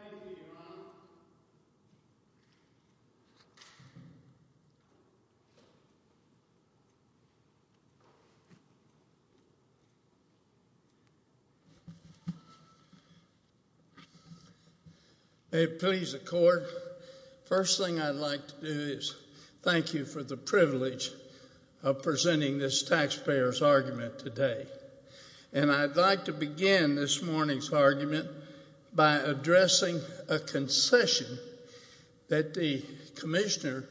Thank you, Your Honor. May it please the Court, first thing I'd like to do is thank you for the privilege of presenting this taxpayer's argument today. And I'd like to begin this morning's argument by addressing a concession that the Commissioner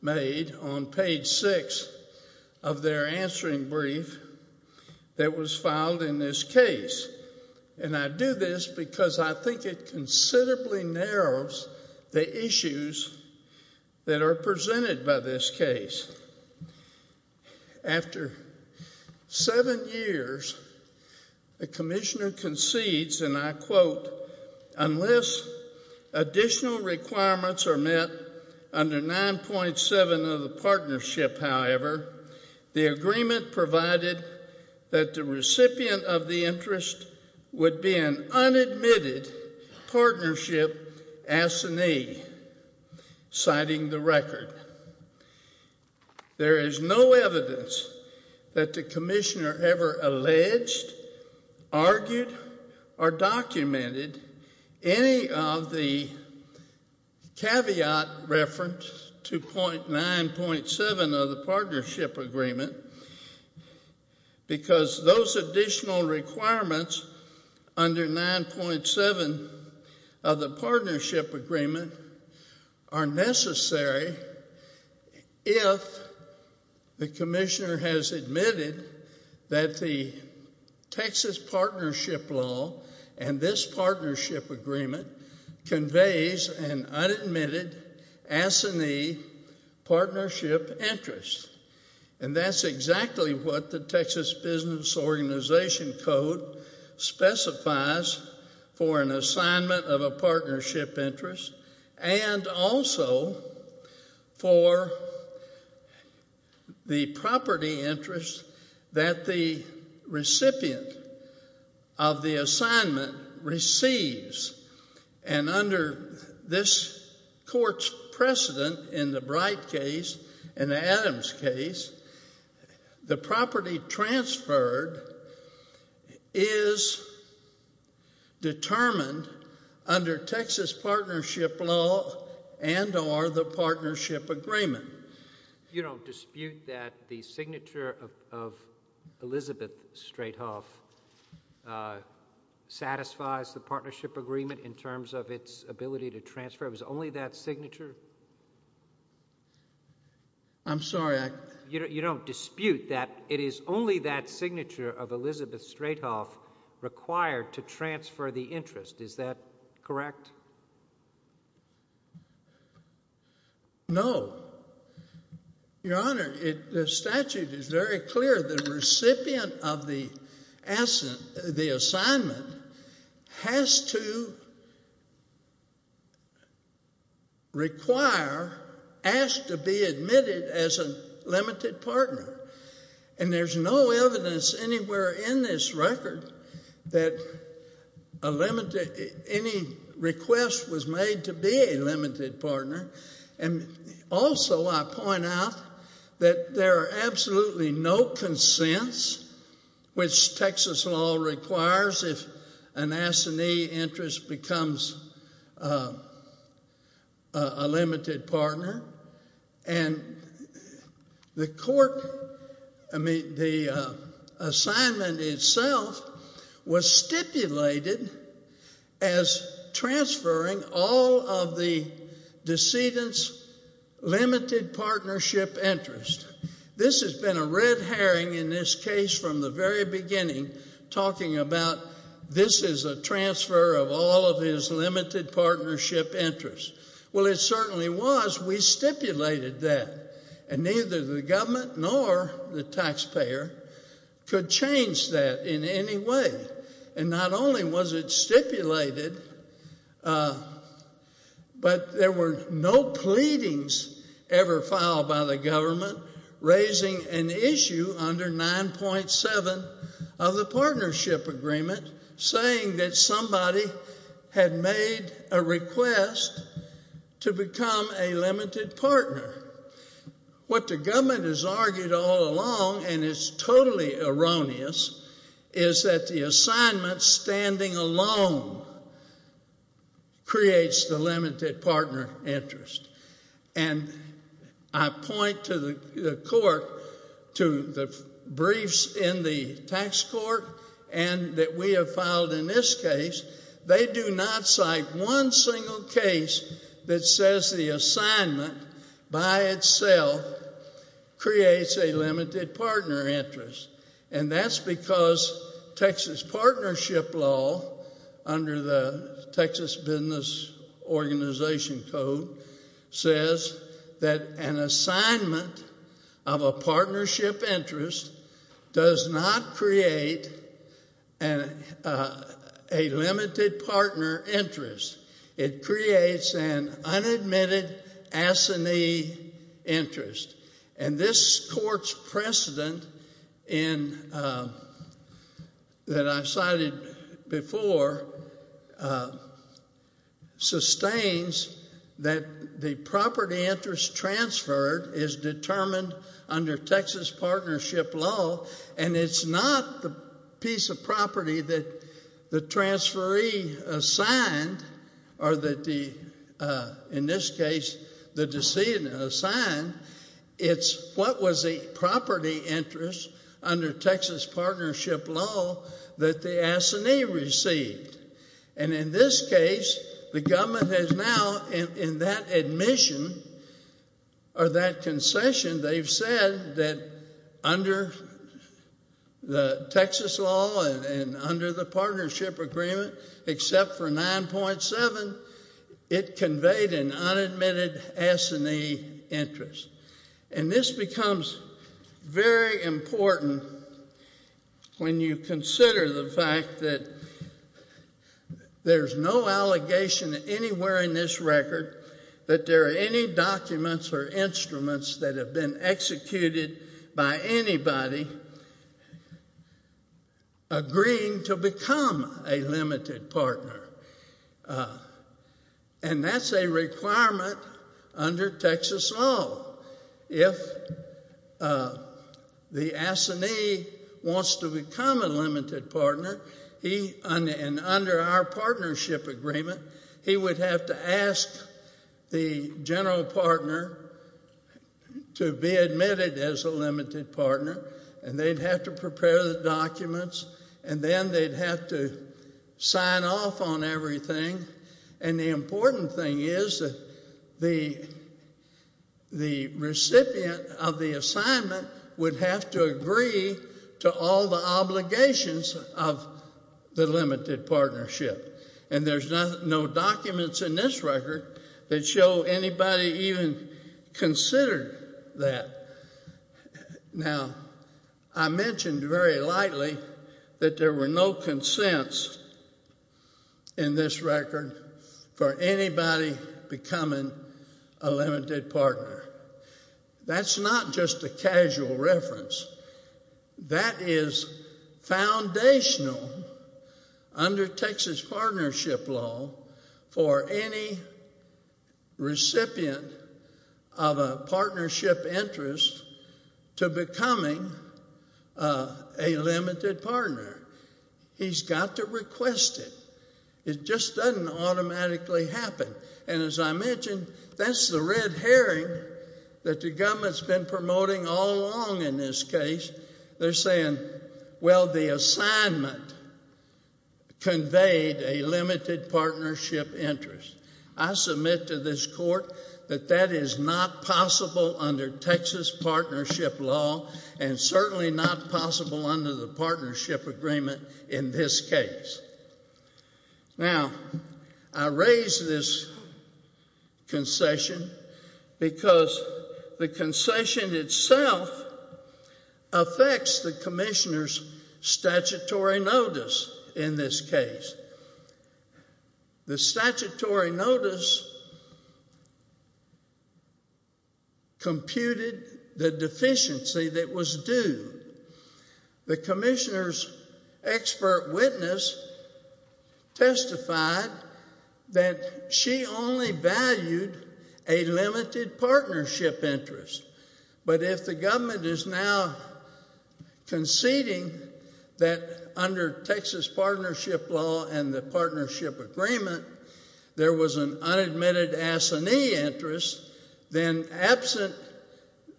made on page 6 of their answering brief that was filed in this case. And I do this because I think it considerably narrows the issues that are presented by this case. After seven years, the Commissioner concedes, and I quote, unless additional requirements are met under 9.7 of the partnership, however, the agreement provided that the recipient of the interest would be an unadmitted partnership assinee, citing the record. There is no evidence that the Commissioner ever alleged, argued, or documented any of the caveat reference to 9.7 of the partnership agreement because those additional requirements under 9.7 of the partnership agreement are necessary if the Commissioner has admitted that the Texas partnership law and this partnership agreement conveys an unadmitted assinee partnership interest. And that's exactly what the Texas Business Organization Code specifies for an assignment of a partnership interest and also for the property interest that the recipient of the assignment receives. And under this court's precedent in the Bright case and Adams case, the property transferred is determined under Texas partnership law and or the partnership agreement. You don't dispute that the signature of Elizabeth Straithoff satisfies the partnership agreement in terms of its ability to transfer? It was only that signature? I'm sorry, I... You don't dispute that it is only that signature of Elizabeth Straithoff required to transfer the interest? Is that correct? No. Your Honor, the statute is very clear. The recipient of the assignment has to require, has to be admitted as a limited partner. And there's no evidence anywhere in this record that any request was made to be a limited partner. And also I point out that there are absolutely no consents which Texas law requires if an assignee interest becomes a limited partner. And the court, I mean the assignment itself was stipulated as transferring all of the decedent's limited partnership interest. This has been a red herring in this case from the very beginning talking about this is a transfer of all of his limited partnership interest. Well it certainly was. We stipulated that. And neither the government nor the taxpayer could change that in any way. And not only was it stipulated, but there were no pleadings ever filed by the government raising an issue under 9.7 of the partnership agreement saying that somebody had made a request to become a limited partner. What the government has argued all along and it's totally erroneous is that the assignment standing alone creates the limited partner interest. And I point to the court, to the briefs in the tax court and that we have filed in this case, they do not cite one single case that says the assignment by itself creates a limited partner interest. And that's because Texas partnership law under the Texas Business Organization Code says that an assignment of a partnership interest does not create a limited partner interest. It creates an unadmitted assignee interest. And this court's precedent that I've cited before sustains that the property interest transferred is determined under Texas partnership law and it's not the piece of property that the transferee assigned or that the, in this case, the decedent assigned. It's what was the property interest under Texas partnership law that the assignee received. And in this case, the government has now in that admission or that concession, they've said that under the Texas law and under the partnership agreement, except for 9.7, it conveyed an unadmitted assignee interest. And this becomes very important when you consider the fact that there's no allegation anywhere in this record that there are any documents or instruments that have been executed by anybody agreeing to become a limited partner. And that's a requirement under Texas law. If the assignee wants to become a limited partner, and under our partnership agreement, he would have to ask the general partner to be admitted as a limited partner and they'd have to prepare the documents and then they'd have to sign off on everything. And the important thing is that the recipient of the assignment would have to agree to all the obligations of the limited partnership. And there's no documents in this record that show anybody even considered that. Now, I mentioned very lightly that there were no consents in this record for anybody becoming a limited partner. That's not just a casual reference. That is foundational under Texas partnership law for any recipient of a partnership interest to becoming a limited partner. He's got to request it. It just doesn't automatically happen. And as I mentioned, that's the red herring that the government's been promoting all along in this case. They're saying, well, the assignment conveyed a limited partnership interest. I submit to this court that that is not possible under Texas partnership law and certainly not possible under the partnership agreement in this case. Now, I raise this concession because the concession itself affects the commissioner's statutory notice in this case. The statutory notice computed the deficiency that was due. The commissioner's expert witness testified that she only valued a limited partnership interest. But if the government is now conceding that under Texas partnership law and the partnership agreement there was an unadmitted assignee interest, then absent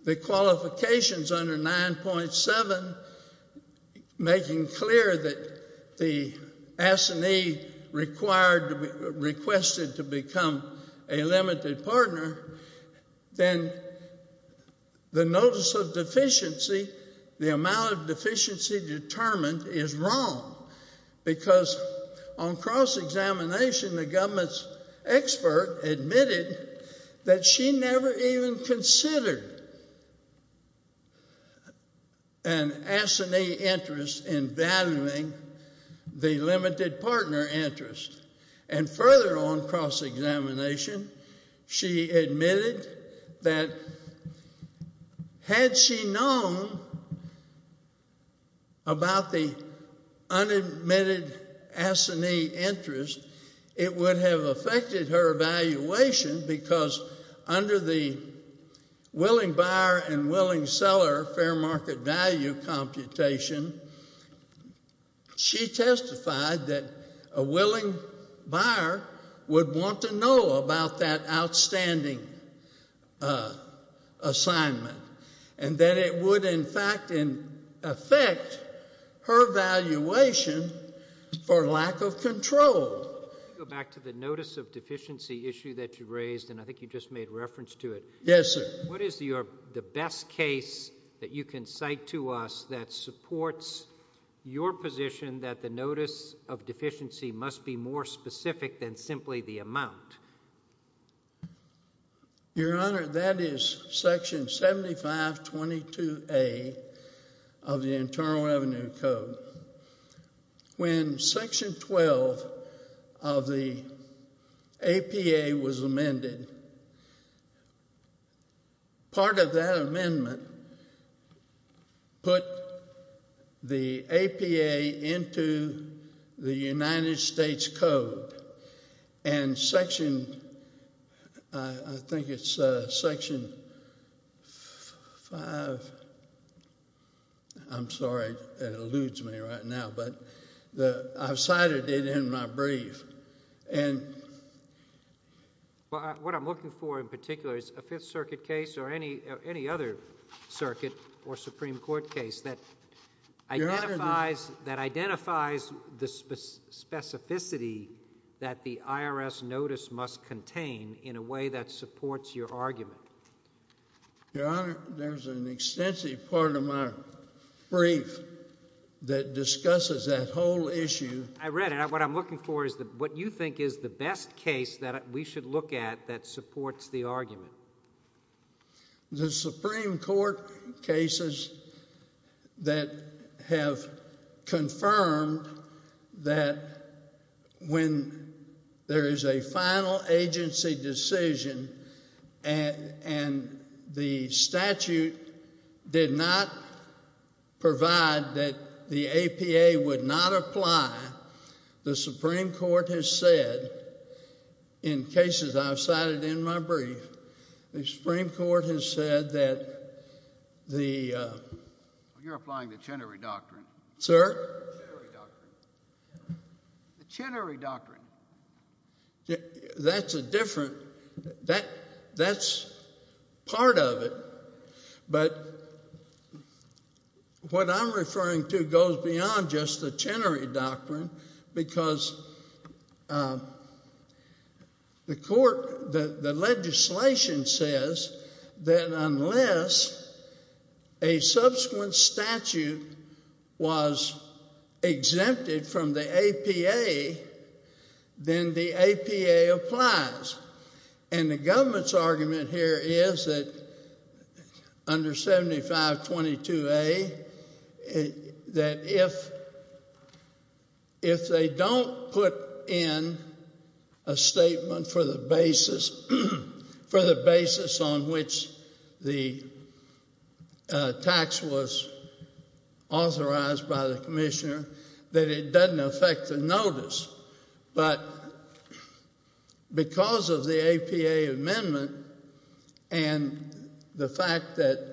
the qualifications under 9.7 making clear that the assignee requested to become a limited partner, then the notice of deficiency, the amount of deficiency determined, is wrong because on cross-examination, the government's expert admitted that she never even considered an assignee interest in valuing the limited partner interest. And further on cross-examination, she admitted that had she known about the unadmitted assignee interest, it would have affected her evaluation because under the willing buyer and willing seller fair market value computation, she testified that a willing buyer would want to know about that outstanding assignment and that it would in fact affect her valuation for lack of control. Go back to the notice of deficiency issue that you raised and I think you just made reference to it. Yes, sir. What is the best case that you can cite to us that supports your position that the notice of deficiency must be more specific than simply the amount? Your Honor, that is section 7522A of the Internal Revenue Code. When section 12 of the APA was amended, part of that amendment put the APA into the United States Code and section, I think it's section 5, I'm sorry, it eludes me right now, but I've cited it in my brief. What I'm looking for in particular is a Fifth Circuit case or any other circuit or Supreme Court case that identifies the specificity that the IRS notice must contain in a way that supports your argument. Your Honor, there's an extensive part of my brief that discusses that whole issue. I read it. What I'm looking for is what you think is the best case that we should look at that supports the argument. The Supreme Court cases that have confirmed that when there is a final agency decision and the statute did not provide that the APA would not apply, the Supreme Court has said, in cases I've cited in my brief, the Supreme Court has said that the... You're applying the Chenery Doctrine. Sir? The Chenery Doctrine. The Chenery Doctrine. That's a different... That's part of it. But what I'm referring to goes beyond just the Chenery Doctrine because the court... the legislation says that unless a subsequent statute was exempted from the APA, then the APA applies. And the government's argument here is that under 7522A, that if they don't put in a statement for the basis on which the tax was authorized by the commissioner, that it doesn't affect the notice. But because of the APA amendment and the fact that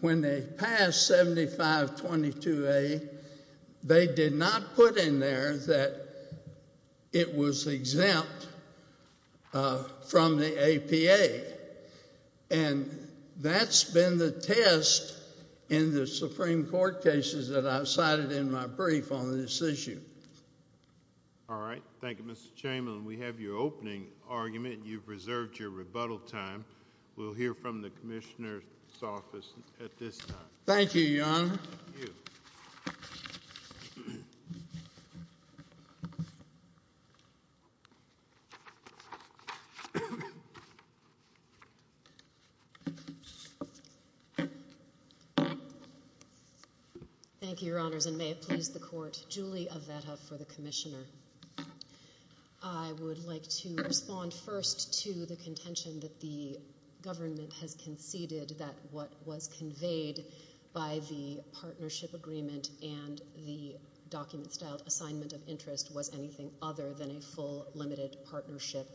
when they passed 7522A, they did not put in there that it was exempt from the APA. And that's been the test in the Supreme Court cases that I've cited in my brief on this issue. All right. Thank you, Mr. Chamberlain. We have your opening argument. You've reserved your rebuttal time. We'll hear from the commissioner's office at this time. Thank you, Your Honor. Thank you. Thank you, Your Honors, and may it please the court. Julie Avetta for the commissioner. I would like to respond first to the contention that the government has conceded that what was conveyed by the partnership agreement and the document-styled assignment of interest was anything other than a full, limited partnership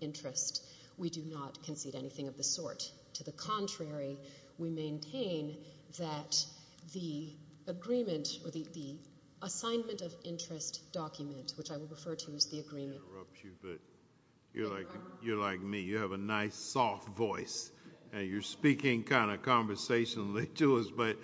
interest. We do not concede anything of the sort. To the contrary, we maintain that the agreement or the assignment of interest document, which I will refer to as the agreement... I don't want to interrupt you, but you're like me. You have a nice, soft voice, and you're speaking kind of conversationally to us, but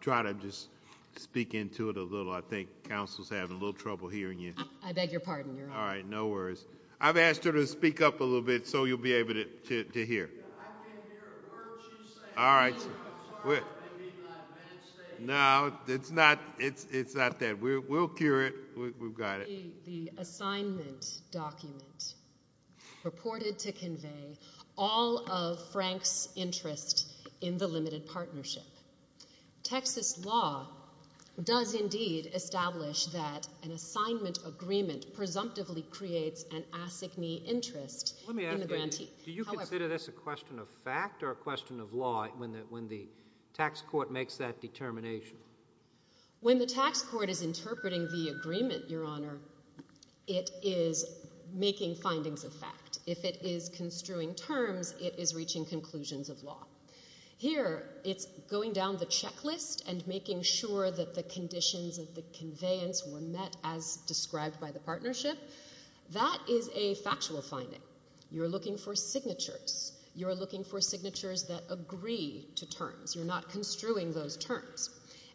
try to just speak into it a little. I think counsel's having a little trouble hearing you. I beg your pardon, Your Honor. All right, no worries. I've asked her to speak up a little bit so you'll be able to hear. I can't hear a word she's saying. All right. I'm sorry if I made that mistake. No, it's not that. We'll cure it. We've got it. The assignment document purported to convey all of Frank's interest in the limited partnership. Texas law does indeed establish that an assignment agreement presumptively creates an assignee interest in the grantee. Do you consider this a question of fact or a question of law when the tax court makes that determination? When the tax court is interpreting the agreement, Your Honor, it is making findings of fact. If it is construing terms, it is reaching conclusions of law. Here, it's going down the checklist and making sure that the conditions of the conveyance were met as described by the partnership. That is a factual finding. You're looking for signatures. You're looking for signatures that agree to terms. You're not construing those terms.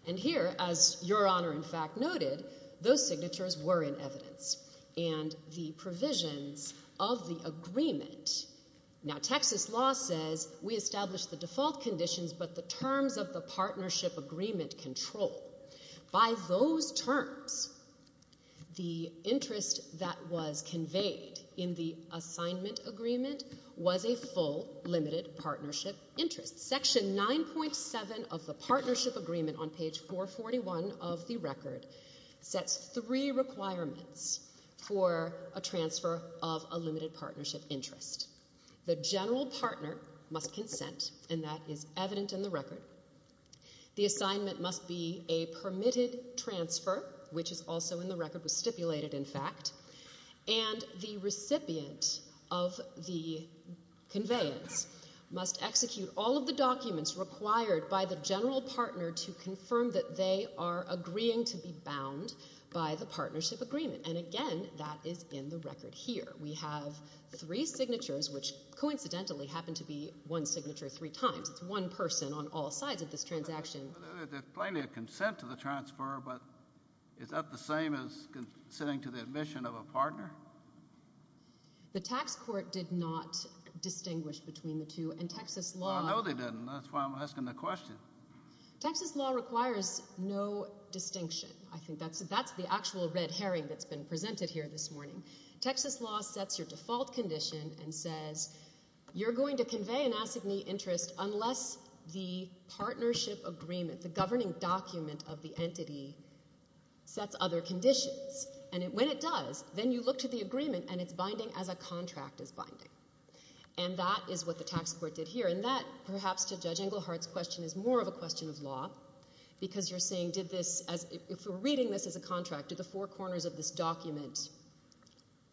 And here, as Your Honor, in fact, noted, those signatures were in evidence. And the provisions of the agreement... Now, Texas law says we establish the default conditions, but the terms of the partnership agreement control. By those terms, the interest that was conveyed in the assignment agreement was a full limited partnership interest. Section 9.7 of the partnership agreement on page 441 of the record sets three requirements for a transfer of a limited partnership interest. The general partner must consent, and that is evident in the record. The assignment must be a permitted transfer, which is also in the record, was stipulated, in fact. And the recipient of the conveyance must execute all of the documents required by the general partner to confirm that they are agreeing to be bound by the partnership agreement. And again, that is in the record here. We have three signatures, which coincidentally happen to be one signature three times. It's one person on all sides of this transaction. There's plainly a consent to the transfer, but is that the same as consenting to the admission of a partner? The tax court did not distinguish between the two, and Texas law... No, they didn't. That's why I'm asking the question. Texas law requires no distinction. I think that's the actual red herring that's been presented here this morning. Texas law sets your default condition and says you're going to convey an assignee interest unless the partnership agreement, the governing document of the entity, sets other conditions. And when it does, then you look to the agreement and it's binding as a contract is binding. And that is what the tax court did here. And that, perhaps to Judge Englehart's question, is more of a question of law, because you're saying, did this... If we're reading this as a contract, did the four corners of this document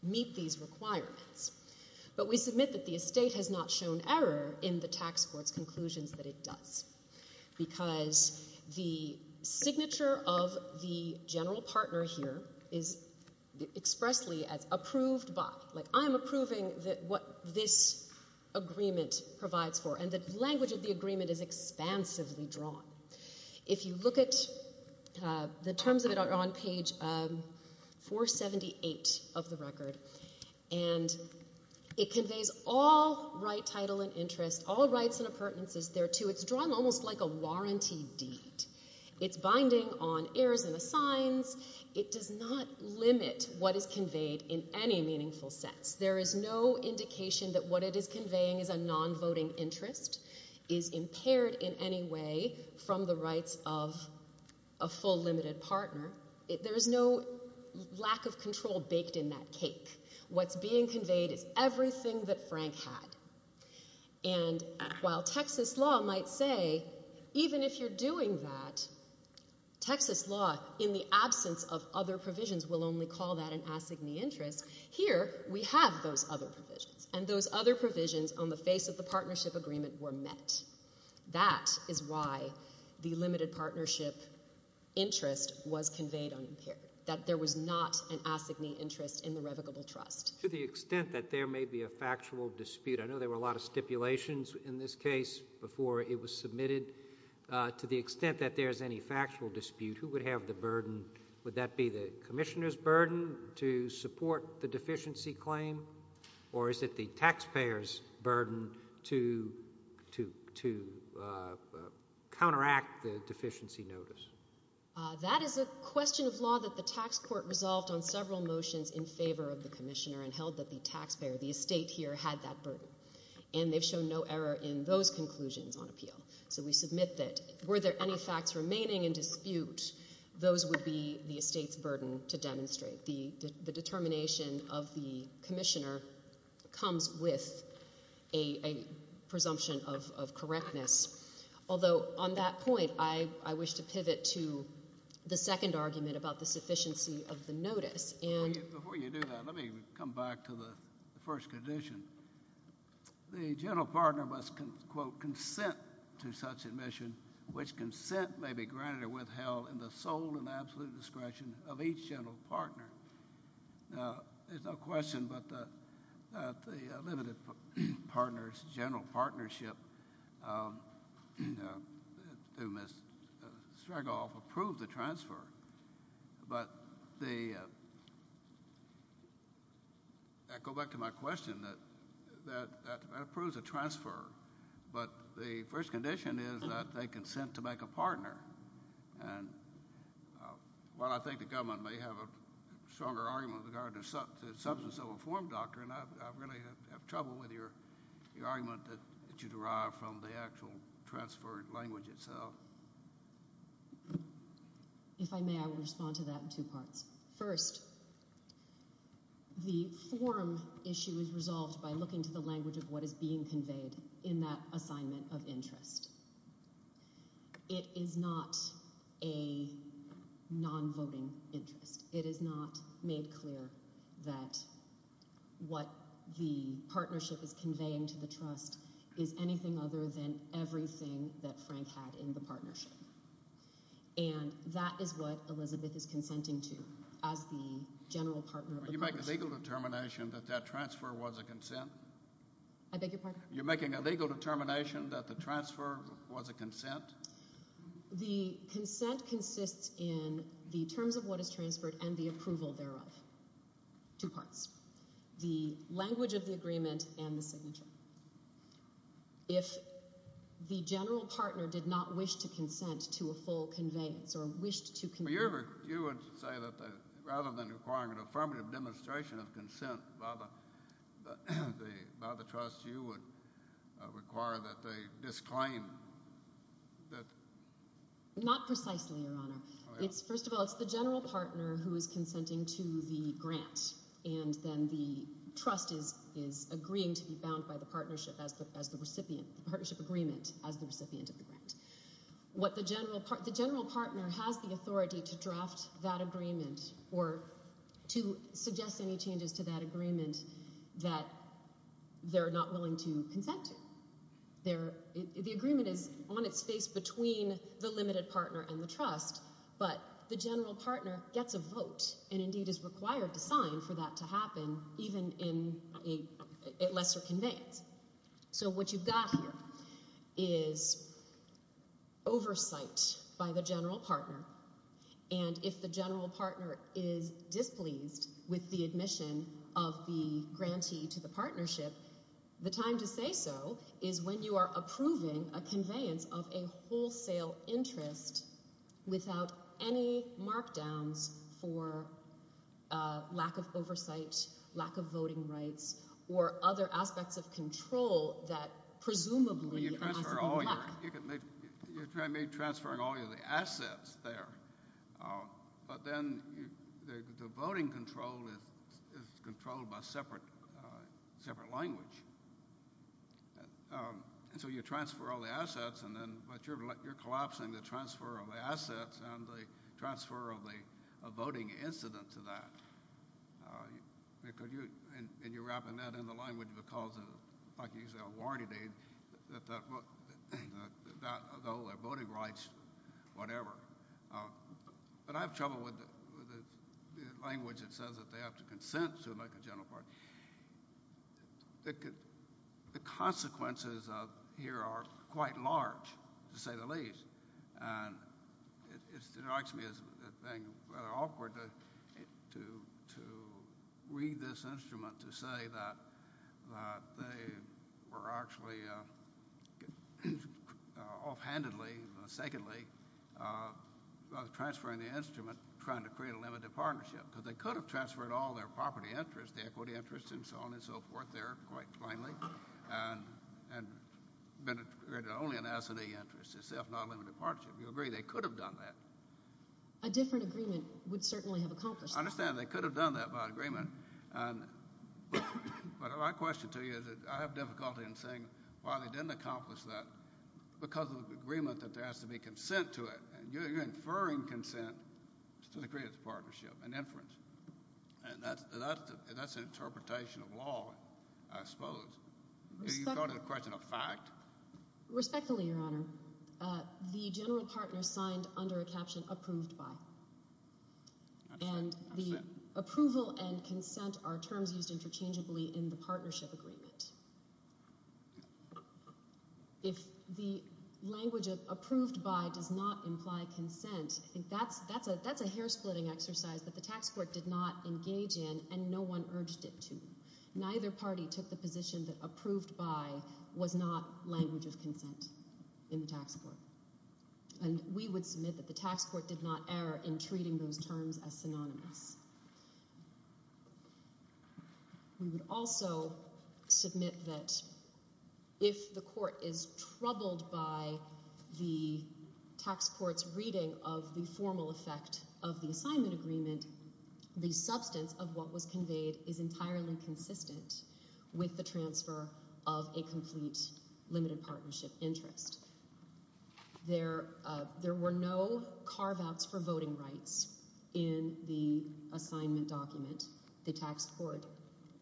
meet these requirements? But we submit that the estate has not shown error in the tax court's conclusions that it does, because the signature of the general partner here is expressly as approved by. Like, I'm approving what this agreement provides for. And the language of the agreement is expansively drawn. If you look at... The terms of it are on page 478 of the record, and it conveys all right, title, and interest, all rights and appurtenances thereto. It's drawn almost like a warranty deed. It's binding on heirs and assigns. It does not limit what is conveyed in any meaningful sense. There is no indication that what it is conveying is a non-voting interest, is impaired in any way from the rights of a full limited partner. There is no lack of control baked in that cake. What's being conveyed is everything that Frank had. And while Texas law might say, even if you're doing that, Texas law, in the absence of other provisions, will only call that an assignee interest, here we have those other provisions, and those other provisions on the face of the partnership agreement were met. That is why the limited partnership interest was conveyed unimpaired, that there was not an assignee interest in the revocable trust. To the extent that there may be a factual dispute, I know there were a lot of stipulations in this case before it was submitted. To the extent that there is any factual dispute, who would have the burden? Would that be the commissioner's burden to support the deficiency claim, or is it the taxpayer's burden to counteract the deficiency notice? That is a question of law that the tax court resolved on several motions in favor of the commissioner and held that the taxpayer, the estate here, had that burden. And they've shown no error in those conclusions on appeal. So we submit that, were there any facts remaining in dispute, those would be the estate's burden to demonstrate. The determination of the commissioner comes with a presumption of correctness. Although on that point, I wish to pivot to the second argument about the sufficiency of the notice. Before you do that, let me come back to the first condition. The general partner must, quote, consent to such admission, which consent may be granted or withheld in the sole and absolute discretion of each general partner. Now, there's no question but that the limited partners' general partnership through Ms. Stregoff approved the transfer. But the... I go back to my question that that approves a transfer, but the first condition is that they consent to make a partner. And while I think the government may have a stronger argument with regard to the substance of a form, Doctor, and I really have trouble with your argument that you derive from the actual transferred language itself. If I may, I will respond to that in two parts. First, the form issue is resolved by looking to the language of what is being conveyed in that assignment of interest. It is not a non-voting interest. It is not made clear that what the partnership is conveying to the trust is anything other than everything that Frank had in the partnership. And that is what Elizabeth is consenting to as the general partner of the corporation. Will you make a legal determination that that transfer was a consent? I beg your pardon? You're making a legal determination that the transfer was a consent? The consent consists in the terms of what is transferred and the approval thereof. Two parts. The language of the agreement and the signature. If the general partner did not wish to consent to a full conveyance or wished to convey... You would say that rather than requiring an affirmative demonstration of consent by the trust, you would require that they disclaim that... Not precisely, Your Honor. First of all, it's the general partner who is consenting to the grant, and then the trust is agreeing to be bound by the partnership as the recipient, the partnership agreement as the recipient of the grant. The general partner has the authority to draft that agreement or to suggest any changes to that agreement that they're not willing to consent to. The agreement is on its face between the limited partner and the trust, but the general partner gets a vote and indeed is required to sign for that to happen, even at lesser conveyance. So what you've got here is oversight by the general partner, and if the general partner is displeased with the admission of the grantee to the partnership, the time to say so is when you are approving a conveyance of a wholesale interest without any markdowns for lack of oversight, lack of voting rights, or other aspects of control that presumably... You're transferring all your... You're transferring all your assets there, but then the voting control is controlled by separate language. And so you transfer all the assets, but you're collapsing the transfer of the assets and the transfer of the voting incident to that. And you're wrapping that in the language because of, like you say, a warranty date, the voting rights, whatever. But I have trouble with the language that says that they have to consent to it, like the general partner. The consequences here are quite large, to say the least, and it strikes me as being rather awkward to read this instrument to say that they were actually offhandedly, or secondly, transferring the instrument trying to create a limited partnership because they could have transferred all their property interest, the equity interest, and so on and so forth there quite plainly, and only an S&E interest, a self-not-limited partnership. You agree they could have done that? A different agreement would certainly have accomplished that. I understand they could have done that by agreement, but my question to you is that I have difficulty in saying why they didn't accomplish that because of the agreement that there has to be consent to it, and you're inferring consent to the creation of the partnership, an inference. That's an interpretation of law, I suppose. Are you calling the question a fact? Respectfully, Your Honor, the general partner signed under a caption, approved by, and the approval and consent are terms used interchangeably in the partnership agreement. If the language of approved by does not imply consent, that's a hair-splitting exercise that the tax court did not engage in and no one urged it to. Neither party took the position that approved by was not language of consent in the tax court, and we would submit that the tax court did not err in treating those terms as synonymous. We would also submit that if the court is troubled by the tax court's reading of the formal effect of the assignment agreement, the substance of what was conveyed is entirely consistent with the transfer of a complete limited partnership interest. There were no carve-outs for voting rights in the assignment document. The tax court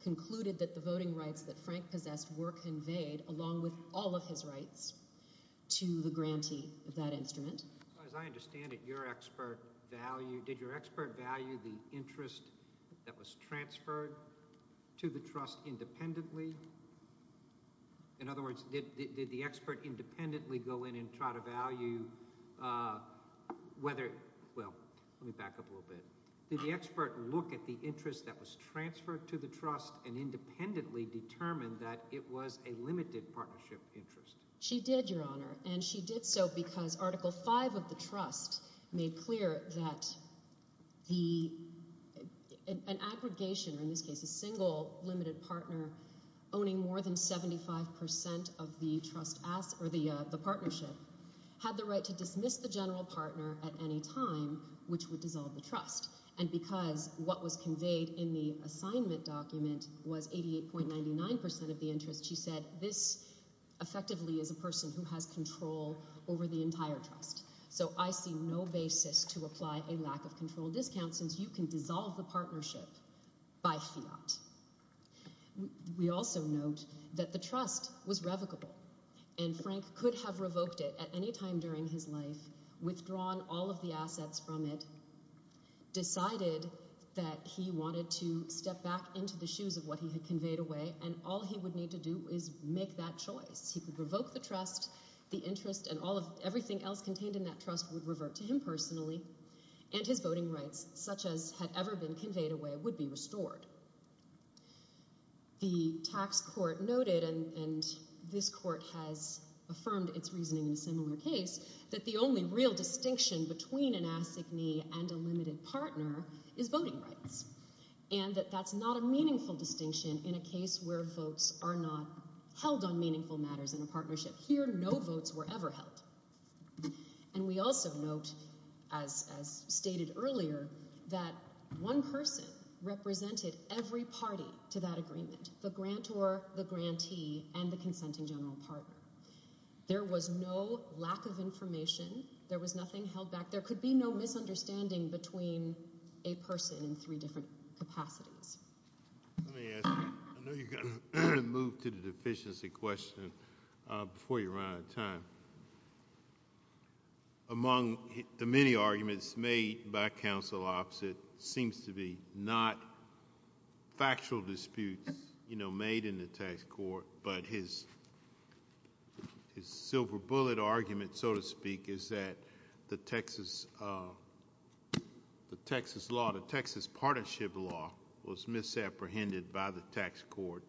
concluded that the voting rights that Frank possessed were conveyed, along with all of his rights, to the grantee of that instrument. As I understand it, did your expert value the interest that was transferred to the trust independently? In other words, did the expert independently go in and try to value whether... Well, let me back up a little bit. Did the expert look at the interest that was transferred to the trust and independently determine that it was a limited partnership interest? She did, Your Honor, and she did so because Article V of the trust made clear that an aggregation, or in this case a single limited partner, owning more than 75% of the partnership had the right to dismiss the general partner at any time, which would dissolve the trust. And because what was conveyed in the assignment document was 88.99% of the interest, she said this effectively is a person who has control over the entire trust. So I see no basis to apply a lack of control discount since you can dissolve the partnership by fiat. We also note that the trust was revocable, and Frank could have revoked it at any time during his life, withdrawn all of the assets from it, decided that he wanted to step back into the shoes of what he had conveyed away, and all he would need to do is make that choice. He could revoke the trust, the interest, and everything else contained in that trust would revert to him personally, and his voting rights, such as had ever been conveyed away, would be restored. The tax court noted, and this court has affirmed its reasoning in a similar case, that the only real distinction between an assignee and a limited partner is voting rights, and that that's not a meaningful distinction in a case where votes are not held on meaningful matters in a partnership. Here, no votes were ever held. And we also note, as stated earlier, that one person represented every party to that agreement, the grantor, the grantee, and the consenting general partner. There was no lack of information. There was nothing held back. There could be no misunderstanding between a person in three different capacities. Let me ask you... I know you're going to move to the deficiency question before you run out of time. Among the many arguments made by counsel opposite seems to be not factual disputes, you know, made in the tax court, but his silver bullet argument, so to speak, is that the Texas law, the Texas partnership law, was misapprehended by the tax court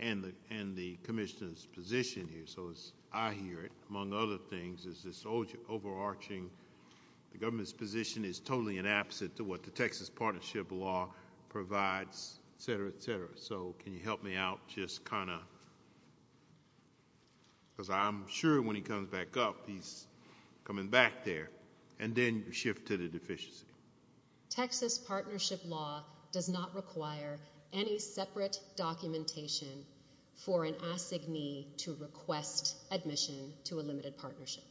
and the commissioner's position here. So as I hear it, among other things, is this overarching government's position is totally inapposite to what the Texas partnership law provides, et cetera, et cetera. So can you help me out just kind of... Because I'm sure when he comes back up, he's coming back there, and then you shift to the deficiency. Texas partnership law does not require any separate documentation for an assignee to request admission to a limited partnership.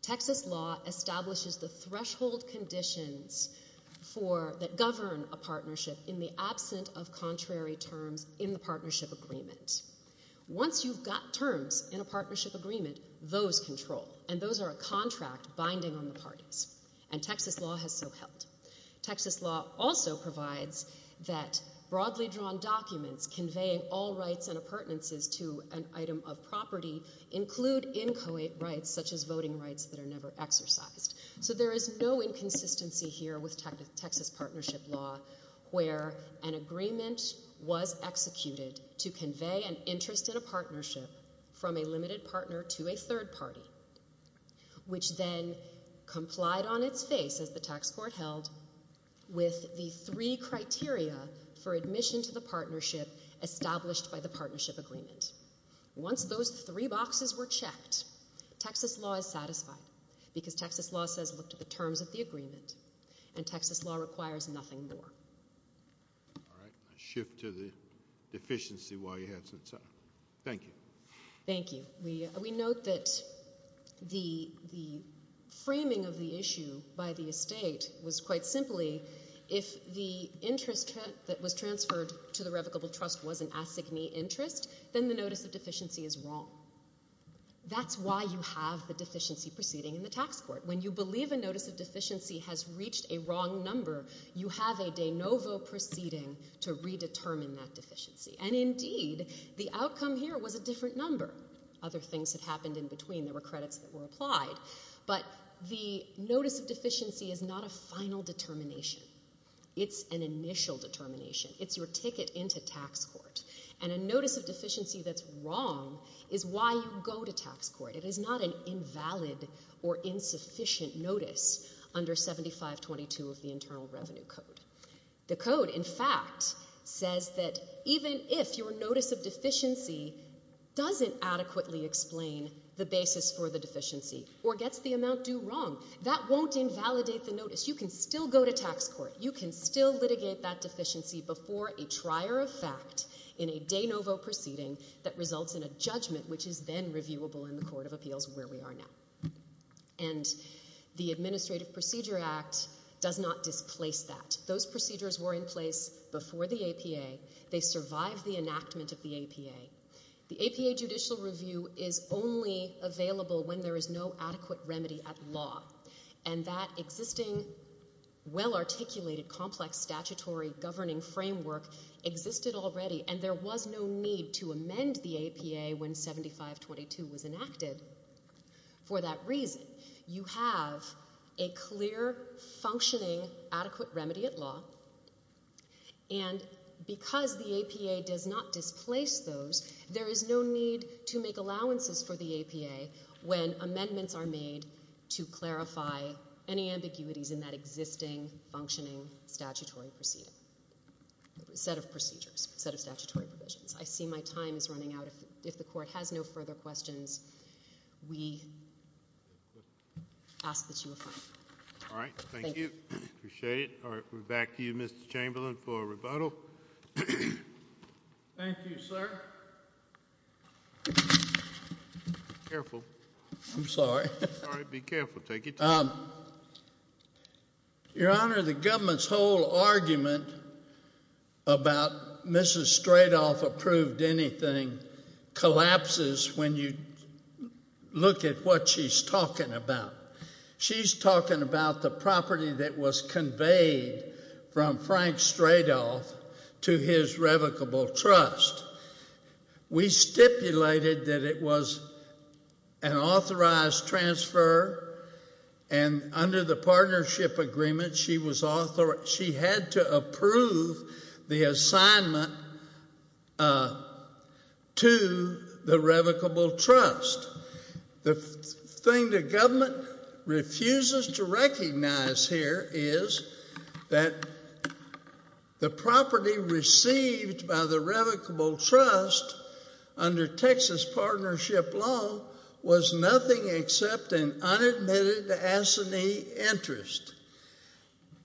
Texas law establishes the threshold conditions that govern a partnership in the absent of contrary terms in the partnership agreement. Once you've got terms in a partnership agreement, those control, and those are a contract binding on the parties, and Texas law has so helped. Texas law also provides that broadly drawn documents conveying all rights and appurtenances to an item of property include inchoate rights, such as voting rights that are never exercised. So there is no inconsistency here with Texas partnership law where an agreement was executed to convey an interest in a partnership from a limited partner to a third party, which then complied on its face, as the tax court held, with the three criteria for admission to the partnership established by the partnership agreement. Once those three boxes were checked, Texas law is satisfied, because Texas law says look to the terms of the agreement, and Texas law requires nothing more. All right. I shift to the deficiency while you have some time. Thank you. Thank you. We note that the framing of the issue by the estate was quite simply if the interest that was transferred to the revocable trust was an assignee interest, then the notice of deficiency is wrong. That's why you have the deficiency proceeding in the tax court. When you believe a notice of deficiency has reached a wrong number, you have a de novo proceeding to redetermine that deficiency. And indeed, the outcome here was a different number. Other things had happened in between. There were credits that were applied. But the notice of deficiency is not a final determination. It's an initial determination. It's your ticket into tax court. And a notice of deficiency that's wrong is why you go to tax court. It is not an invalid or insufficient notice under 7522 of the Internal Revenue Code. The code, in fact, says that even if your notice of deficiency doesn't adequately explain the basis for the deficiency or gets the amount due wrong, that won't invalidate the notice. You can still go to tax court. You can still litigate that deficiency before a trier of fact in a de novo proceeding that results in a judgment, which is then reviewable in the court of appeals where we are now. And the Administrative Procedure Act does not displace that. Those procedures were in place before the APA. They survived the enactment of the APA. The APA judicial review is only available when there is no adequate remedy at law. And that existing, well-articulated, complex statutory governing framework existed already, for that reason, you have a clear, functioning, adequate remedy at law, and because the APA does not displace those, there is no need to make allowances for the APA when amendments are made to clarify any ambiguities in that existing, functioning statutory proceeding... set of procedures, set of statutory provisions. I see my time is running out. If the court has no further questions, we ask that you affirm. All right, thank you. Appreciate it. All right, we're back to you, Mr Chamberlain, for a rebuttal. Thank you, sir. Careful. I'm sorry. All right, be careful. Take your time. Your Honor, the government's whole argument about Mrs Stradolph approved anything collapses when you look at what she's talking about. She's talking about the property that was conveyed from Frank Stradolph to his revocable trust. We stipulated that it was an authorized transfer, and under the partnership agreement, she had to approve the assignment to the revocable trust. The thing the government refuses to recognize here is that the property received by the revocable trust under Texas partnership law was nothing except an unadmitted assignee interest,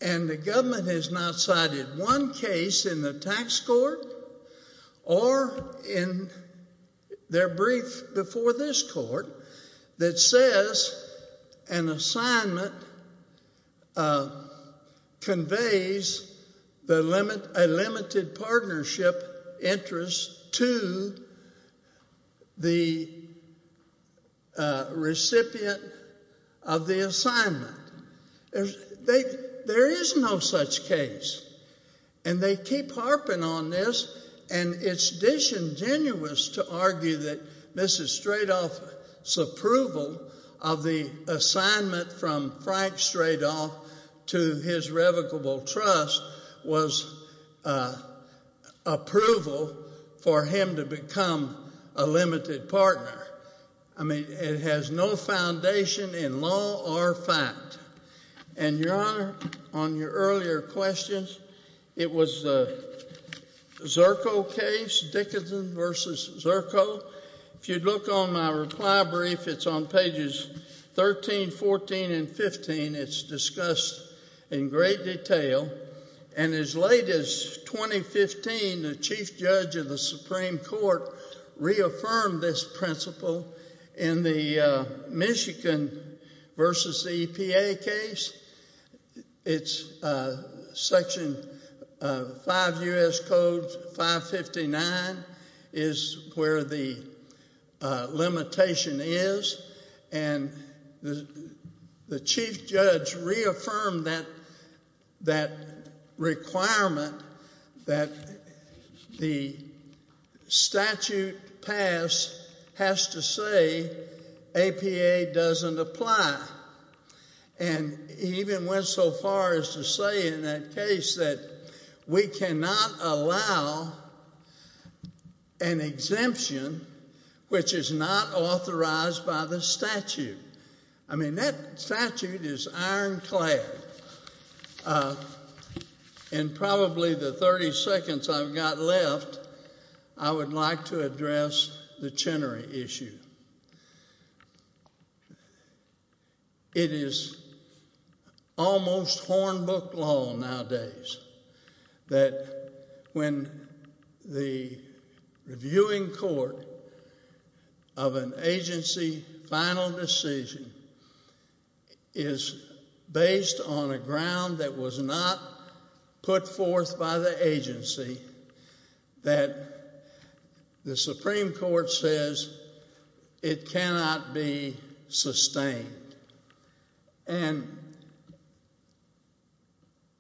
and the government has not cited one case in the tax court or in their brief before this court that says an assignment conveys a limited partnership interest to the recipient of the assignment. There is no such case, and they keep harping on this, and it's disingenuous to argue that Mrs Stradolph's approval of the assignment from Frank Stradolph to his revocable trust was approval for him to become a limited partner. I mean, it has no foundation in law or fact. And, Your Honor, on your earlier questions, it was the Zirko case, Dickinson v. Zirko. If you'd look on my reply brief, it's on pages 13, 14, and 15. It's discussed in great detail. And as late as 2015, the chief judge of the Supreme Court reaffirmed this principle in the Michigan v. EPA case. It's Section 5 U.S. Code 559 is where the limitation is, and the chief judge reaffirmed that requirement that the statute passed has to say APA doesn't apply. And he even went so far as to say in that case that we cannot allow an exemption which is not authorized by the statute. I mean, that statute is ironclad. In probably the 30 seconds I've got left, I would like to address the Chenery issue. It is almost hornbook law nowadays that when the reviewing court of an agency final decision is based on a ground that was not put forth by the agency, that the Supreme Court says it cannot be sustained. And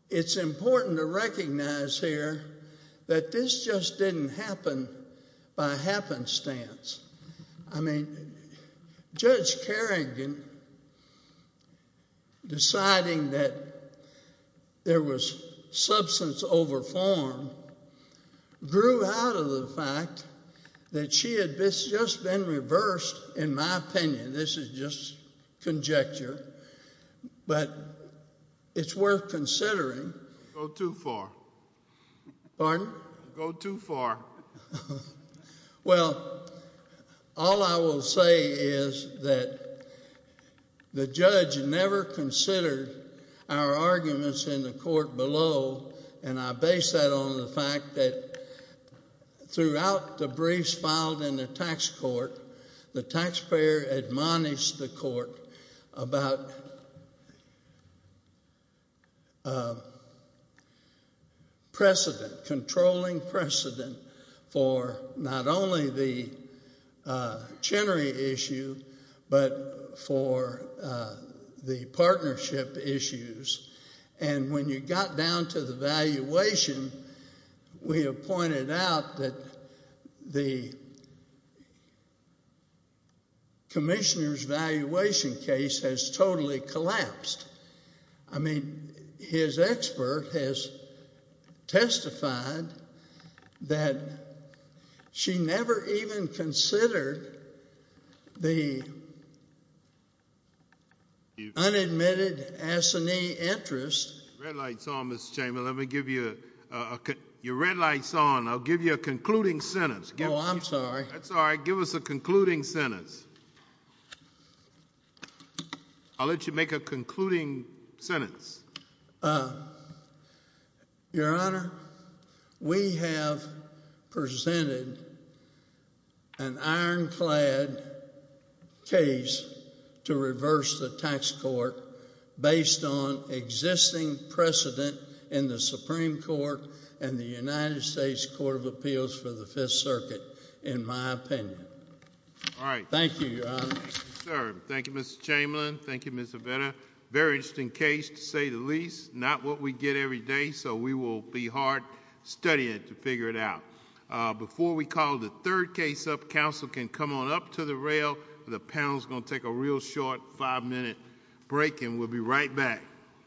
it's important to recognize here that this just didn't happen by happenstance. I mean, Judge Kerrigan, deciding that there was substance over form, grew out of the fact that she had just been reversed, in my opinion, this is just conjecture, but it's worth considering. Go too far. Pardon? Go too far. Well, all I will say is that the judge never considered our arguments in the court below, and I base that on the fact that throughout the briefs filed in the tax court, the taxpayer admonished the court about precedent, controlling precedent for not only the Chenery issue, but for the partnership issues. And when you got down to the valuation, we have pointed out that the commissioner's valuation case has totally collapsed. I mean, his expert has testified that she never even considered the unadmitted assignee interest. The red light's on, Mr. Chamberlain. Your red light's on. I'll give you a concluding sentence. Oh, I'm sorry. That's all right. Give us a concluding sentence. I'll let you make a concluding sentence. Your Honor, we have presented an ironclad case to reverse the tax court based on existing precedent in the Supreme Court and the United States Court of Appeals for the Fifth Circuit, in my opinion. All right. Thank you, Your Honor. Thank you, sir. Thank you, Mr. Chamberlain. Thank you, Ms. Avena. Very interesting case, to say the least. Not what we get every day, so we will be hard studying it to figure it out. Before we call the third case up, counsel can come on up to the rail. The panel's going to take a real short five-minute break, and we'll be right back.